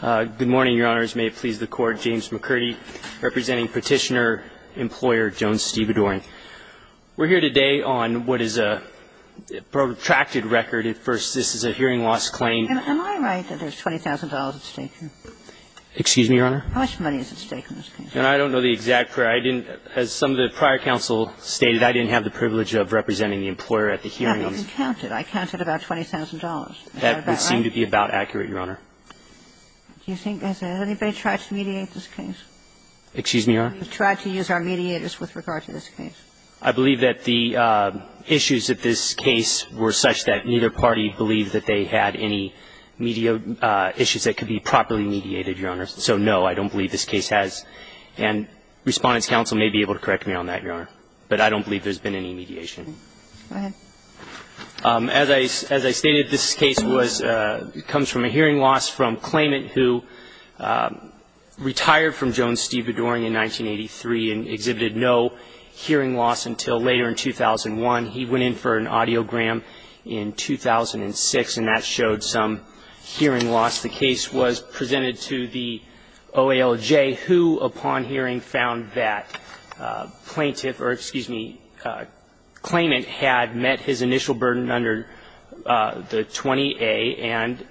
Good morning, Your Honors. May it please the Court, James McCurdy representing Petitioner-Employer Joan Stevedoring. We're here today on what is a protracted record. At first, this is a hearing loss claim. Am I right that there's $20,000 at stake here? Excuse me, Your Honor? How much money is at stake in this case? I don't know the exact figure. I didn't, as some of the prior counsel stated, I didn't have the privilege of representing the employer at the hearing. Yeah, but you counted. I counted about $20,000. That would seem to be about accurate, Your Honor. Do you think that anybody tried to mediate this case? Excuse me, Your Honor? We tried to use our mediators with regard to this case. I believe that the issues at this case were such that neither party believed that they had any media issues that could be properly mediated, Your Honor. So, no, I don't believe this case has. And Respondent's counsel may be able to correct me on that, Your Honor. But I don't believe there's been any mediation. Go ahead. As I stated, this case was, comes from a hearing loss from Klayment, who retired from Jones-Stevedore in 1983 and exhibited no hearing loss until later in 2001. He went in for an audiogram in 2006, and that showed some hearing loss. The case was presented to the OALJ, who, upon hearing, found that plaintiff or, excuse me, Klayment had met his initial burden under the 20A, and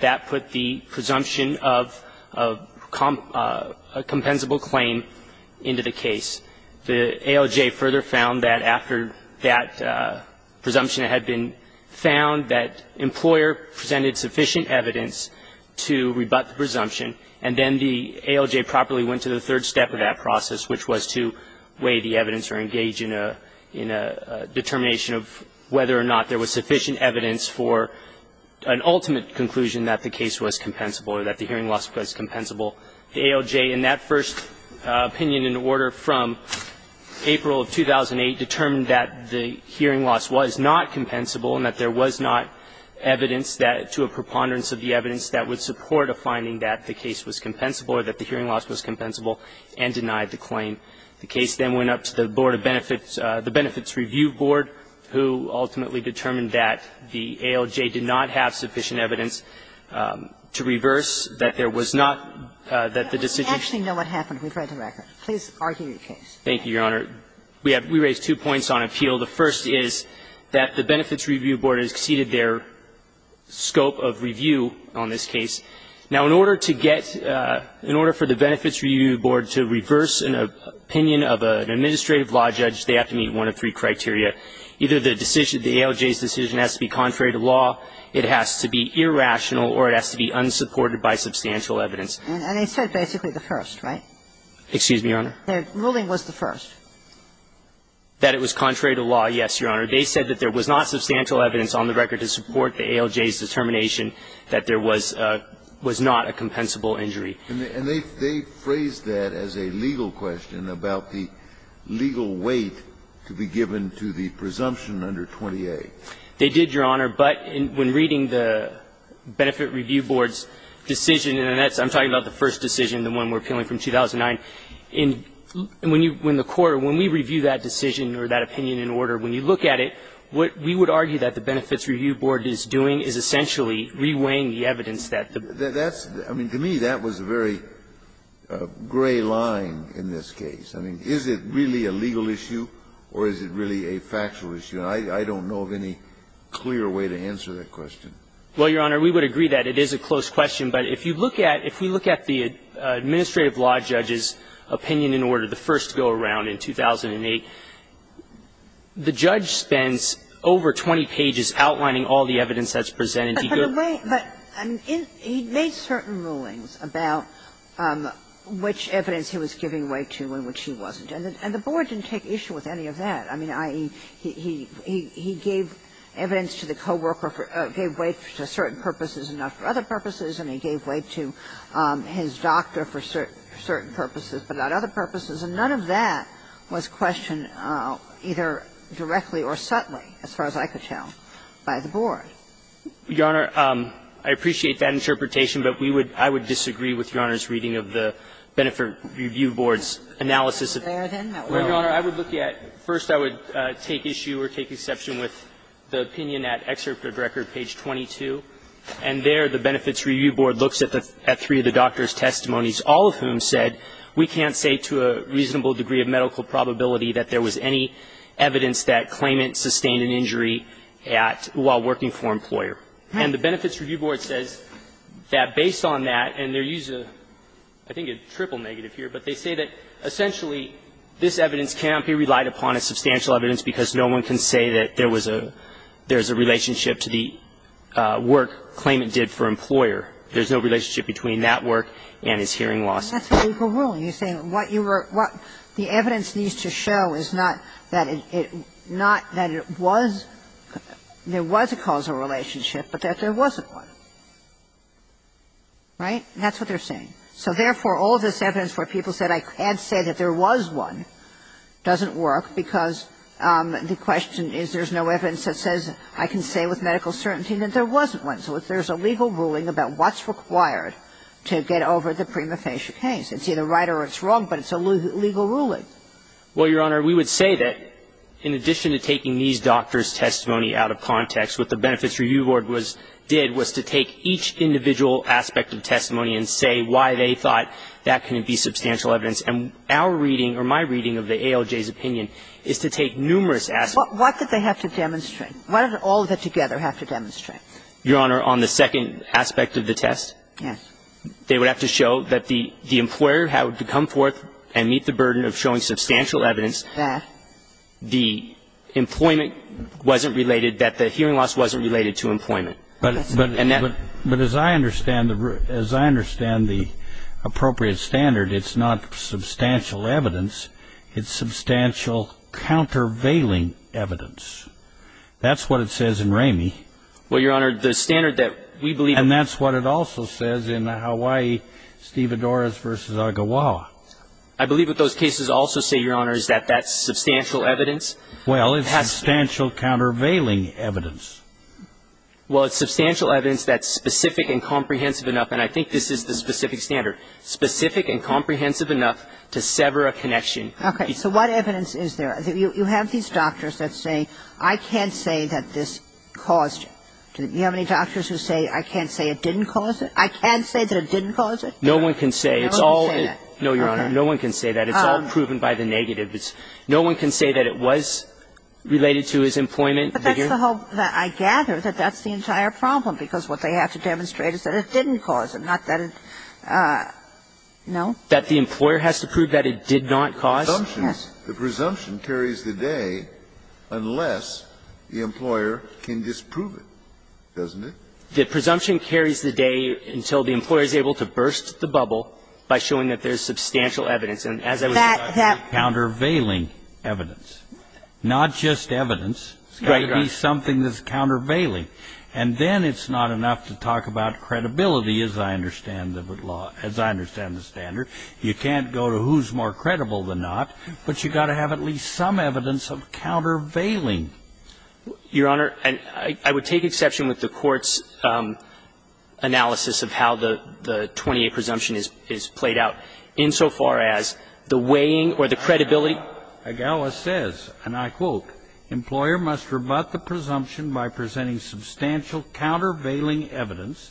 that put the presumption of a compensable claim into the case. The OALJ further found that after that presumption had been found, that employer presented sufficient evidence to rebut the presumption, and then the OALJ properly went to the third step of that process, which was to weigh the evidence or engage in a determination of whether or not there was sufficient evidence for an ultimate conclusion that the case was compensable or that the hearing loss was compensable. The OALJ, in that first opinion in order from April of 2008, determined that the hearing loss was not compensable and that there was not evidence that, to a preponderance of the evidence, that would support a finding that the case was compensable or that the hearing loss was compensable, and denied the claim. The case then went up to the Board of Benefits, the Benefits Review Board, who ultimately determined that the OALJ did not have sufficient evidence to reverse, that there was not the decision. We actually know what happened. We've read the record. Please argue your case. Thank you, Your Honor. We have raised two points on appeal. The first is that the Benefits Review Board has exceeded their scope of review on this case. Now, in order to get the Benefits Review Board to reverse an opinion of an administrative law judge, they have to meet one of three criteria. Either the decision, the OALJ's decision has to be contrary to law. It has to be irrational or it has to be unsupported by substantial evidence. And they said basically the first, right? Excuse me, Your Honor? Their ruling was the first. That it was contrary to law, yes, Your Honor. They said that there was not substantial evidence on the record to support the OALJ's determination that there was not a compensable injury. And they phrased that as a legal question about the legal weight to be given to the presumption under 28. They did, Your Honor. But when reading the Benefit Review Board's decision, and I'm talking about the first decision, the one we're appealing from 2009, when the Court, when we review that decision or that opinion in order, when you look at it, what we would argue that the Benefits Review Board is doing is essentially reweighing the evidence that the That's, I mean, to me that was a very gray line in this case. I mean, is it really a legal issue or is it really a factual issue? And I don't know of any clear way to answer that question. Well, Your Honor, we would agree that it is a close question. But if you look at the administrative law judge's opinion in order, the first go-around in 2008, the judge spends over 20 pages outlining all the evidence that's presented. But in a way, but he made certain rulings about which evidence he was giving weight to and which he wasn't. And the Board didn't take issue with any of that. I mean, he gave evidence to the coworker, gave weight to certain purposes and not for other purposes, and he gave weight to his doctor for certain purposes, but not other purposes. And none of that was questioned either directly or subtly, as far as I could tell, by the Board. Your Honor, I appreciate that interpretation, but we would, I would disagree with Your Honor's reading of the Benefit Review Board's analysis of that. Well, Your Honor, I would look at, first I would take issue or take exception with the opinion at excerpt of record, page 22, and there the Benefits Review Board looks at three of the doctor's testimonies, all of whom said we can't say to a reasonable degree of medical probability that there was any evidence that claimant sustained an injury at, while working for an employer. And the Benefits Review Board says that based on that, and they're using, I think, a triple negative here, but they say that, essentially, this evidence cannot be relied upon as substantial evidence because no one can say that there was a, there's a relationship to the work claimant did for employer. There's no relationship between that work and his hearing loss. And that's what you were ruling. You're saying what you were, what the evidence needs to show is not that it, not that it was, there was a causal relationship, but that there wasn't one. Right? That's what they're saying. So, therefore, all this evidence where people said I can't say that there was one doesn't work because the question is there's no evidence that says I can say with medical certainty that there wasn't one. So if there's a legal ruling about what's required to get over the prima facie case, it's either right or it's wrong, but it's a legal ruling. Well, Your Honor, we would say that in addition to taking these doctors' testimony out of context, what the Benefits Review Board was, did was to take each individual aspect of testimony and say why they thought that couldn't be substantial evidence. And our reading, or my reading of the ALJ's opinion, is to take numerous aspects. What did they have to demonstrate? What did all of it together have to demonstrate? Your Honor, on the second aspect of the test? Yes. They would have to show that the employer had to come forth and meet the burden of showing substantial evidence that the employment wasn't related, that the hearing loss wasn't related to employment. But as I understand the appropriate standard, it's not substantial evidence. It's substantial countervailing evidence. That's what it says in Ramey. Well, Your Honor, the standard that we believe in. And that's what it also says in Hawaii, Steve Adores v. Agawawa. I believe what those cases also say, Your Honor, is that that's substantial evidence. Well, it's substantial countervailing evidence. Well, it's substantial evidence that's specific and comprehensive enough, and I think this is the specific standard, specific and comprehensive enough to sever a connection. Okay. So what evidence is there? You have these doctors that say, I can't say that this caused it. Do you have any doctors who say, I can't say it didn't cause it? I can't say that it didn't cause it? No one can say. No one can say that. No, Your Honor. No one can say that. It's all proven by the negative. No one can say that it was related to his employment. But that's the whole thing. I gather that that's the entire problem, because what they have to demonstrate is that it didn't cause it, not that it no. That the employer has to prove that it did not cause? Yes. The presumption carries the day unless the employer can disprove it, doesn't it? The presumption carries the day until the employer is able to burst the bubble by showing that there's substantial evidence. And as I was saying, that's countervailing evidence, not just evidence. It's got to be something that's countervailing. And then it's not enough to talk about credibility, as I understand the law, as I understand the standard. You can't go to who's more credible than not, but you've got to have at least some evidence of countervailing. Your Honor, I would take exception with the Court's analysis of how the 28 presumption is played out insofar as the weighing or the credibility. And I quote, employer must rebut the presumption by presenting substantial countervailing evidence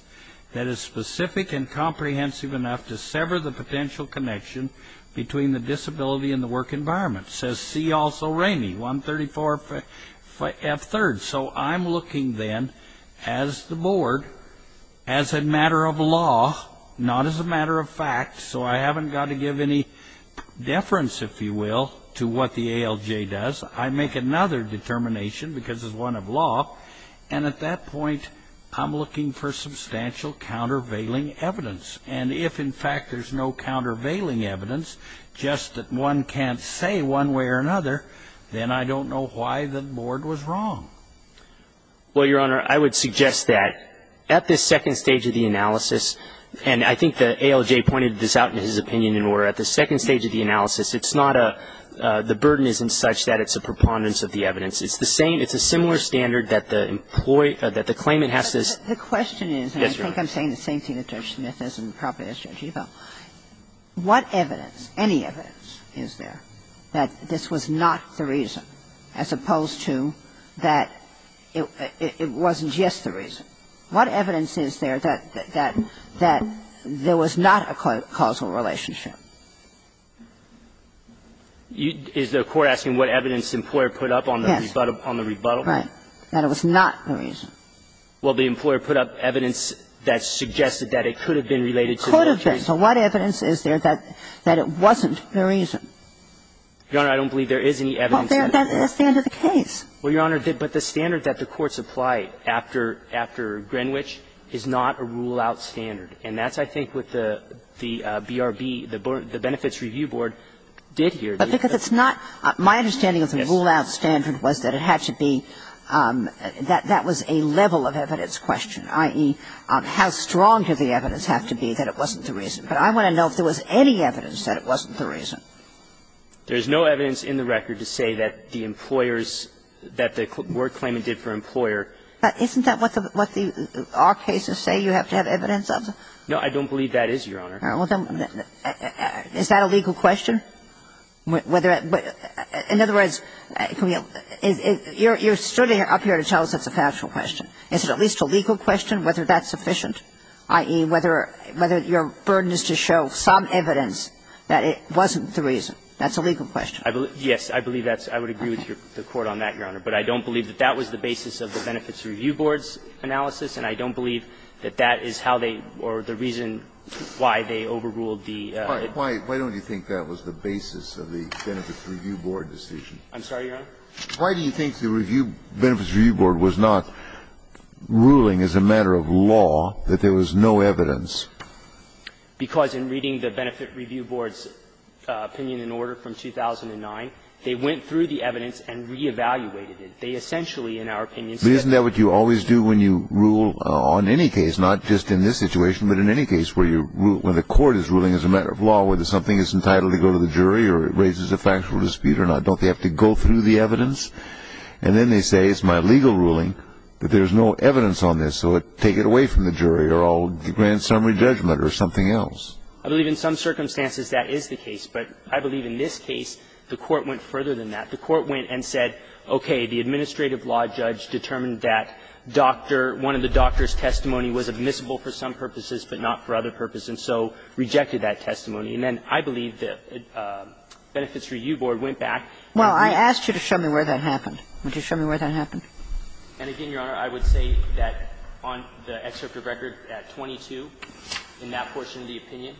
that is specific and comprehensive enough to sever the potential connection between the disability and the work environment. Says C. Also Rainey, 134 F. 3rd. So I'm looking, then, as the Board, as a matter of law, not as a matter of fact. So I haven't got to give any deference, if you will, to what the ALJ does. I make another determination, because it's one of law. And at that point, I'm looking for substantial countervailing evidence. And if, in fact, there's no countervailing evidence, just that one can't say one way or another, then I don't know why the Board was wrong. Well, Your Honor, I would suggest that at this second stage of the analysis, and I think the ALJ pointed this out in his opinion, in where at the second stage of the analysis, it's not a the burden isn't such that it's a preponderance of the evidence. It's the same, it's a similar standard that the employee, that the claimant has to. The question is, and I think I'm saying the same thing that Judge Smith is and probably as Judge Evell, what evidence, any evidence, is there that this was not the reason, as opposed to that it wasn't just the reason? What evidence is there that there was not a causal relationship? Is the Court asking what evidence the employer put up on the rebuttal? Yes. Right. That it was not the reason. Well, the employer put up evidence that suggested that it could have been related to the case. It could have been. So what evidence is there that it wasn't the reason? Your Honor, I don't believe there is any evidence that it was. But that's the end of the case. Well, Your Honor, but the standard that the courts apply after Greenwich is not a rule-out standard. And that's, I think, what the BRB, the Benefits Review Board, did here. But because it's not my understanding of the rule-out standard was that it had to be that that was a level of evidence question, i.e., how strong did the evidence have to be that it wasn't the reason. But I want to know if there was any evidence that it wasn't the reason. There's no evidence in the record to say that the employers, that the court claim it did for employer. Isn't that what our cases say you have to have evidence of? No, I don't believe that is, Your Honor. Is that a legal question? In other words, you're standing up here to tell us it's a factual question. Is it at least a legal question whether that's sufficient, i.e., whether your burden is to show some evidence that it wasn't the reason? That's a legal question. Yes. I believe that's – I would agree with the Court on that, Your Honor. But I don't believe that that was the basis of the Benefits Review Board's analysis. And I don't believe that that is how they or the reason why they overruled the – Why don't you think that was the basis of the Benefits Review Board decision? I'm sorry, Your Honor? Why do you think the Benefits Review Board was not ruling as a matter of law that there was no evidence? Because in reading the Benefits Review Board's opinion in order from 2009, they went through the evidence and re-evaluated it. They essentially, in our opinion, said that – But isn't that what you always do when you rule on any case, not just in this situation, but in any case where you rule – when the Court is ruling as a matter of law, whether something is entitled to go to the jury or it raises a factual dispute or not, don't they have to go through the evidence? And then they say, it's my legal ruling that there's no evidence on this, so take it away from the jury or I'll grant summary judgment or something else. I believe in some circumstances that is the case. But I believe in this case, the Court went further than that. The Court went and said, okay, the administrative law judge determined that doctor – one of the doctor's testimony was admissible for some purposes, but not for other purposes, and so rejected that testimony. And then I believe the Benefits Review Board went back. Well, I asked you to show me where that happened. Would you show me where that happened? And again, Your Honor, I would say that on the excerpt of record at 22, in that portion of the opinion,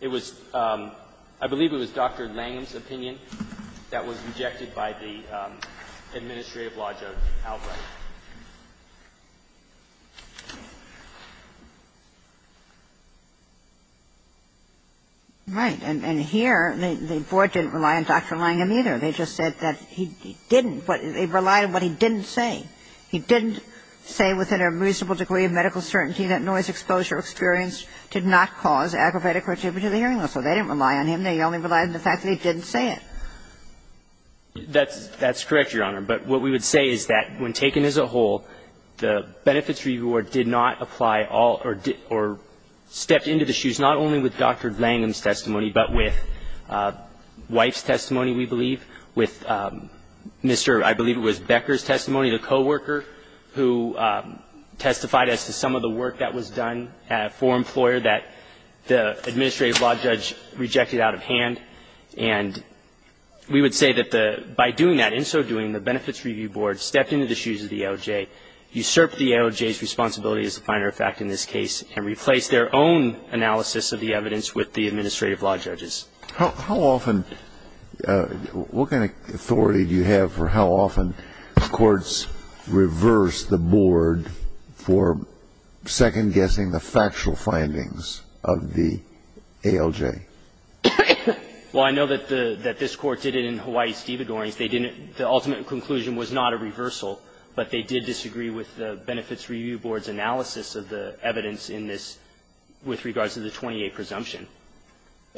it was – I believe it was Dr. Langham's opinion that was rejected by the administrative law judge Albright. Right. And here, the Board didn't rely on Dr. Langham either. They just said that he didn't – they relied on what he didn't say. He didn't say within a reasonable degree of medical certainty that noise exposure experienced did not cause aggravated contribution to the hearing loss. So they didn't rely on him. They only relied on the fact that he didn't say it. That's correct, Your Honor. But what we would say is that when taken as a whole, the Benefits Review Board did not apply all – or stepped into the shoes not only with Dr. Langham's testimony, but with Wife's testimony, we believe, with Mr. – I believe it was Becker's testimony, the coworker who testified as to some of the work that was done for an employer that the administrative law judge rejected out of hand. And we would say that the – by doing that, in so doing, the Benefits Review Board stepped into the shoes of the AOJ, usurped the AOJ's responsibility as a finer effect in this case, and replaced their own analysis of the evidence with the administrative law judge's. How often – what kind of authority do you have for how often courts reverse the board for second-guessing the factual findings of the AOJ? Well, I know that the – that this Court did it in Hawaii-Stevadorians. They didn't – the ultimate conclusion was not a reversal, but they did disagree with the Benefits Review Board's analysis of the evidence in this with regards to the 28 presumption.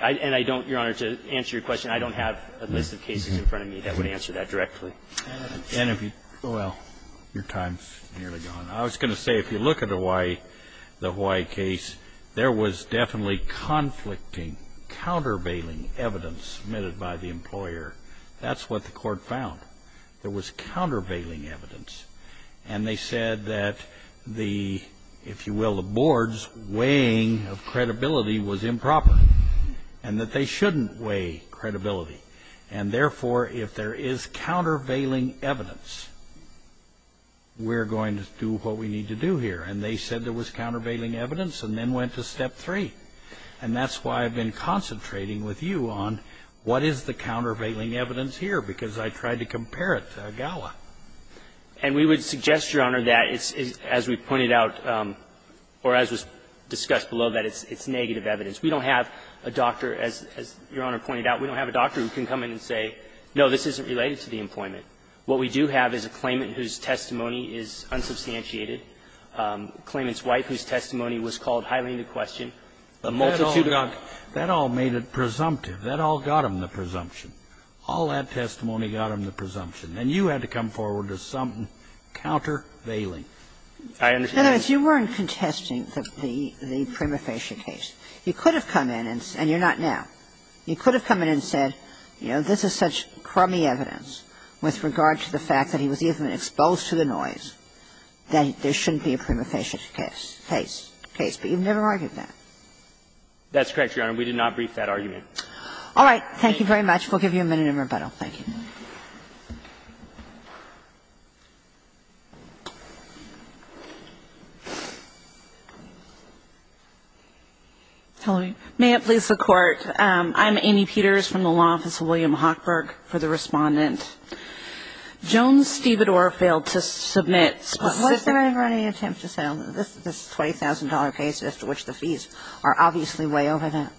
I – and I don't, Your Honor, to answer your question, I don't have a list of cases in front of me that would answer that directly. And if you – well, your time's nearly gone. I was going to say, if you look at Hawaii, the Hawaii case, there was definitely conflicting, countervailing evidence submitted by the employer. That's what the Court found. There was countervailing evidence, and they said that the – if you will, the board's weighing of credibility was improper, and that they shouldn't weigh credibility. And therefore, if there is countervailing evidence, we're going to do what we need to do here. And they said there was countervailing evidence, and then went to step three. And that's why I've been concentrating with you on what is the countervailing evidence here, because I tried to compare it to Agawa. And we would suggest, Your Honor, that it's – as we've pointed out, or as was discussed below, that it's negative evidence. We don't have a doctor, as Your Honor pointed out, we don't have a doctor who can come in and say, no, this isn't related to the employment. What we do have is a claimant whose testimony is unsubstantiated, a claimant's wife whose testimony was called highly into question, a multitude of others. That all made it presumptive. That all got them the presumption. All that testimony got them the presumption. And you had to come forward with something countervailing. I understand that. Kagan. Kagan. And you weren't contesting the prima facie case. You could have come in and said – and you're not now. You could have come in and said, you know, this is such crummy evidence with regard to the fact that he was even exposed to the noise, that there shouldn't be a prima facie case. But you've never argued that. That's correct, Your Honor. We did not brief that argument. All right. Thank you very much. We'll give you a minute in rebuttal. Thank you. May it please the Court. I'm Annie Peters from the law office of William Hochberg. For the Respondent, Jones-Stibidor failed to submit – Why didn't I have any attempt to say this is a $20,000 case after which the fees are obviously way over that?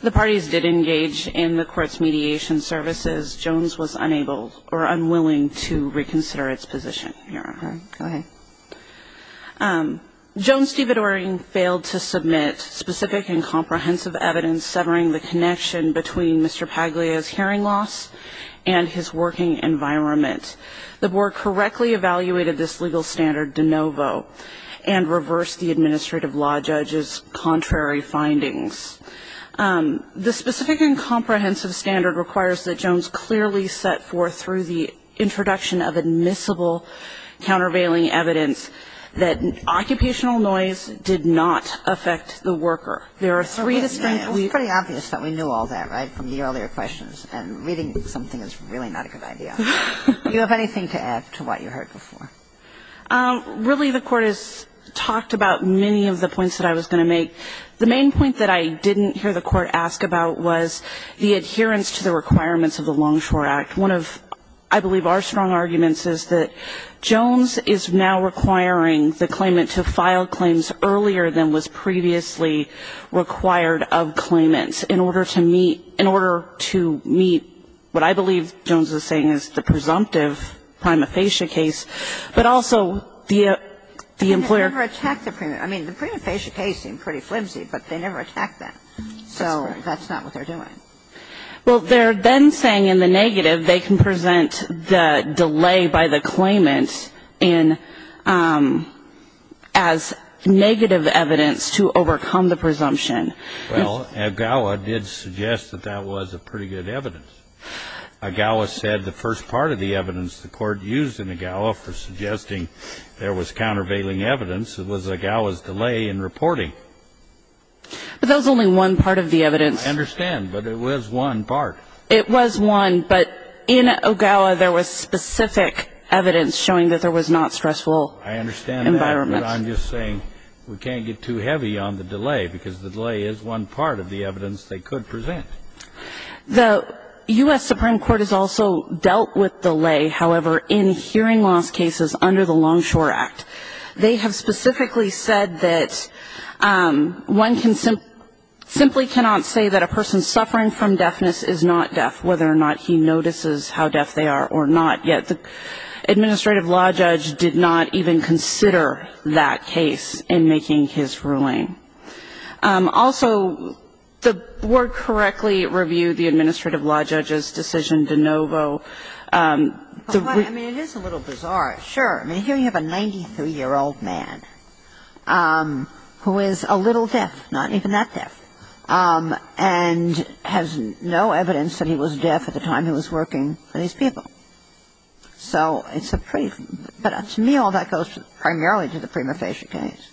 The parties did engage in the Court's mediation services. Jones was unable or unwilling to reconsider its position, Your Honor. All right. Go ahead. Jones-Stibidor failed to submit specific and comprehensive evidence severing the connection between Mr. Paglia's hearing loss and his working environment. The Board correctly evaluated this legal standard de novo and reversed the The specific and comprehensive standard requires that Jones clearly set forth through the introduction of admissible countervailing evidence that occupational noise did not affect the worker. There are three distinctly – It was pretty obvious that we knew all that, right, from the earlier questions. And reading something is really not a good idea. Do you have anything to add to what you heard before? Really, the Court has talked about many of the points that I was going to make. The main point that I didn't hear the Court ask about was the adherence to the requirements of the Longshore Act. One of, I believe, our strong arguments is that Jones is now requiring the claimant to file claims earlier than was previously required of claimants in order to meet – in order to meet what I believe Jones is saying is the presumptive prima facie case, but also the employer – I mean, the prima facie case seemed pretty flimsy, but they never attacked that. So that's not what they're doing. Well, they're then saying in the negative they can present the delay by the claimant in – as negative evidence to overcome the presumption. Well, AGAWA did suggest that that was a pretty good evidence. AGAWA said the first part of the evidence the Court used in AGAWA for suggesting there was countervailing evidence was AGAWA's delay in reporting. But that was only one part of the evidence. I understand, but it was one part. It was one, but in AGAWA there was specific evidence showing that there was not stressful environment. I understand that, but I'm just saying we can't get too heavy on the delay, because the delay is one part of the evidence they could present. The U.S. Supreme Court has also dealt with delay, however, in hearing loss cases under the Longshore Act. They have specifically said that one can – simply cannot say that a person suffering from deafness is not deaf, whether or not he notices how deaf they are or not, yet the Administrative Law Judge did not even consider that case in making his ruling. Also the Board correctly reviewed the Administrative Law Judge's decision de novo – I mean, it is a little bizarre, sure. I mean, here you have a 93-year-old man who is a little deaf, not even that deaf, and has no evidence that he was deaf at the time he was working for these people. So it's a pretty – but to me all that goes primarily to the prima facie case.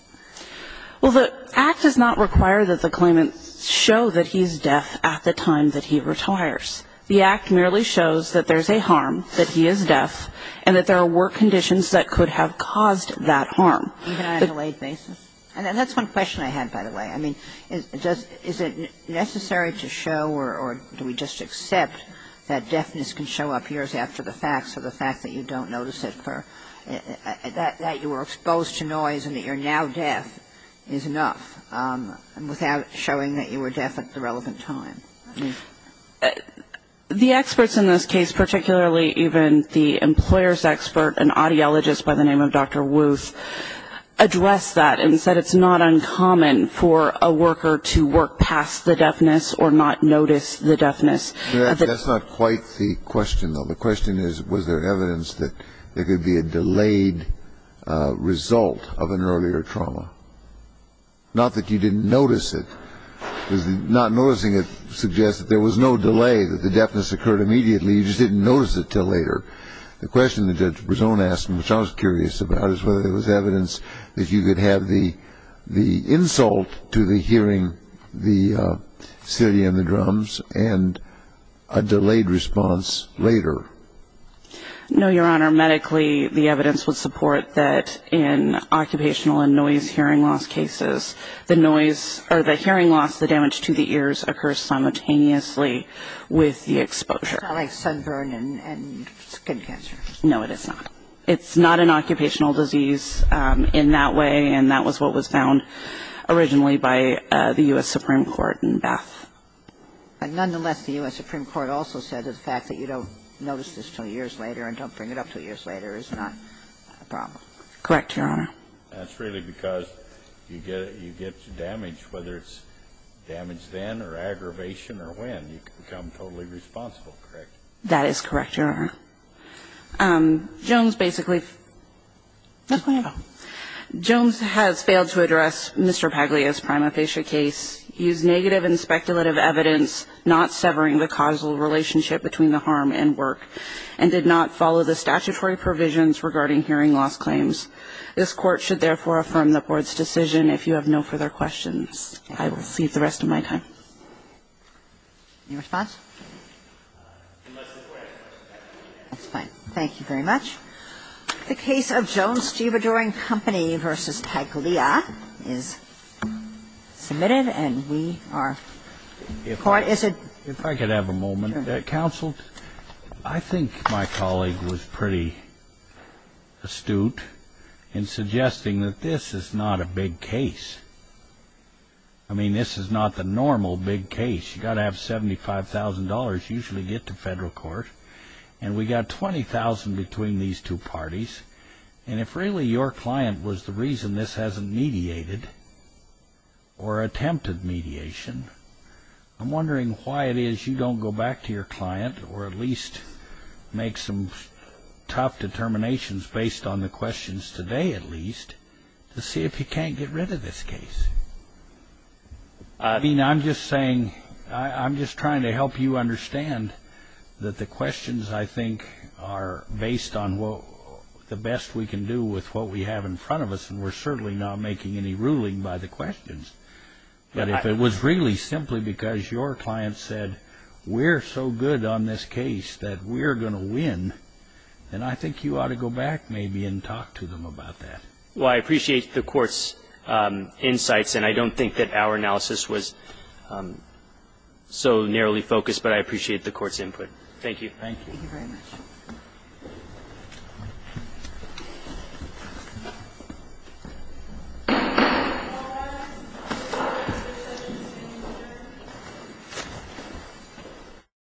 Well, the Act does not require that the claimant show that he's deaf at the time that he retires. The Act merely shows that there's a harm, that he is deaf, and that there were conditions that could have caused that harm. Even on a delayed basis? And that's one question I had, by the way. I mean, is it necessary to show or do we just accept that deafness can show up years after the facts, or the fact that you don't notice it for – that you were exposed to noise and that you're now deaf is enough without showing that you were deaf at the relevant time? The experts in this case, particularly even the employer's expert, an audiologist by the name of Dr. Wooth, addressed that and said it's not uncommon for a worker to work past the deafness or not notice the deafness. That's not quite the question, though. The question is, was there evidence that there could be a delayed result of an earlier trauma? Not that you didn't notice it. Because not noticing it suggests that there was no delay, that the deafness occurred immediately. You just didn't notice it until later. The question that Judge Berzon asked, which I was curious about, is whether there was evidence that you could have the insult to the hearing, the silly and the drums, and a delayed response later. No, Your Honor. Medically, the evidence would support that in occupational and noise hearing loss cases, the noise – or the hearing loss, the damage to the ears, occurs simultaneously with the exposure. Like sunburn and skin cancer. No, it is not. It's not an occupational disease in that way, and that was what was found originally by the U.S. Supreme Court in Bath. Nonetheless, the U.S. Supreme Court also said that the fact that you don't notice this until years later and don't bring it up until years later is not a problem. Correct, Your Honor. That's really because you get damage, whether it's damage then or aggravation or when. You become totally responsible, correct? That is correct, Your Honor. Jones basically – Jones has failed to address Mr. Paglia's prima facie case. He used negative and speculative evidence, not severing the causal relationship between the harm and work. And did not follow the statutory provisions regarding hearing loss claims. This Court should, therefore, affirm the Board's decision. If you have no further questions, I will cede the rest of my time. Any response? That's fine. Thank you very much. The case of Jones-Gibidoring Company v. Paglia is submitted, and we are – the Court is a – If I could have a moment. Counsel, I think my colleague was pretty astute in suggesting that this is not a big case. I mean, this is not the normal big case. You've got to have $75,000 usually to get to federal court. And we got $20,000 between these two parties. And if really your client was the reason this hasn't mediated or attempted mediation, I'm wondering why it is you don't go back to your client or at least make some tough determinations based on the questions today at least to see if you can't get rid of this case. I mean, I'm just saying – I'm just trying to help you understand that the questions I think are based on the best we can do with what we have in front of us. And we're certainly not making any ruling by the questions. But if it was really simply because your client said, we're so good on this case that we're going to win, then I think you ought to go back maybe and talk to them about that. Well, I appreciate the Court's insights, and I don't think that our analysis was so narrowly focused, but I appreciate the Court's input. Thank you. Thank you. Thank you very much. Thank you.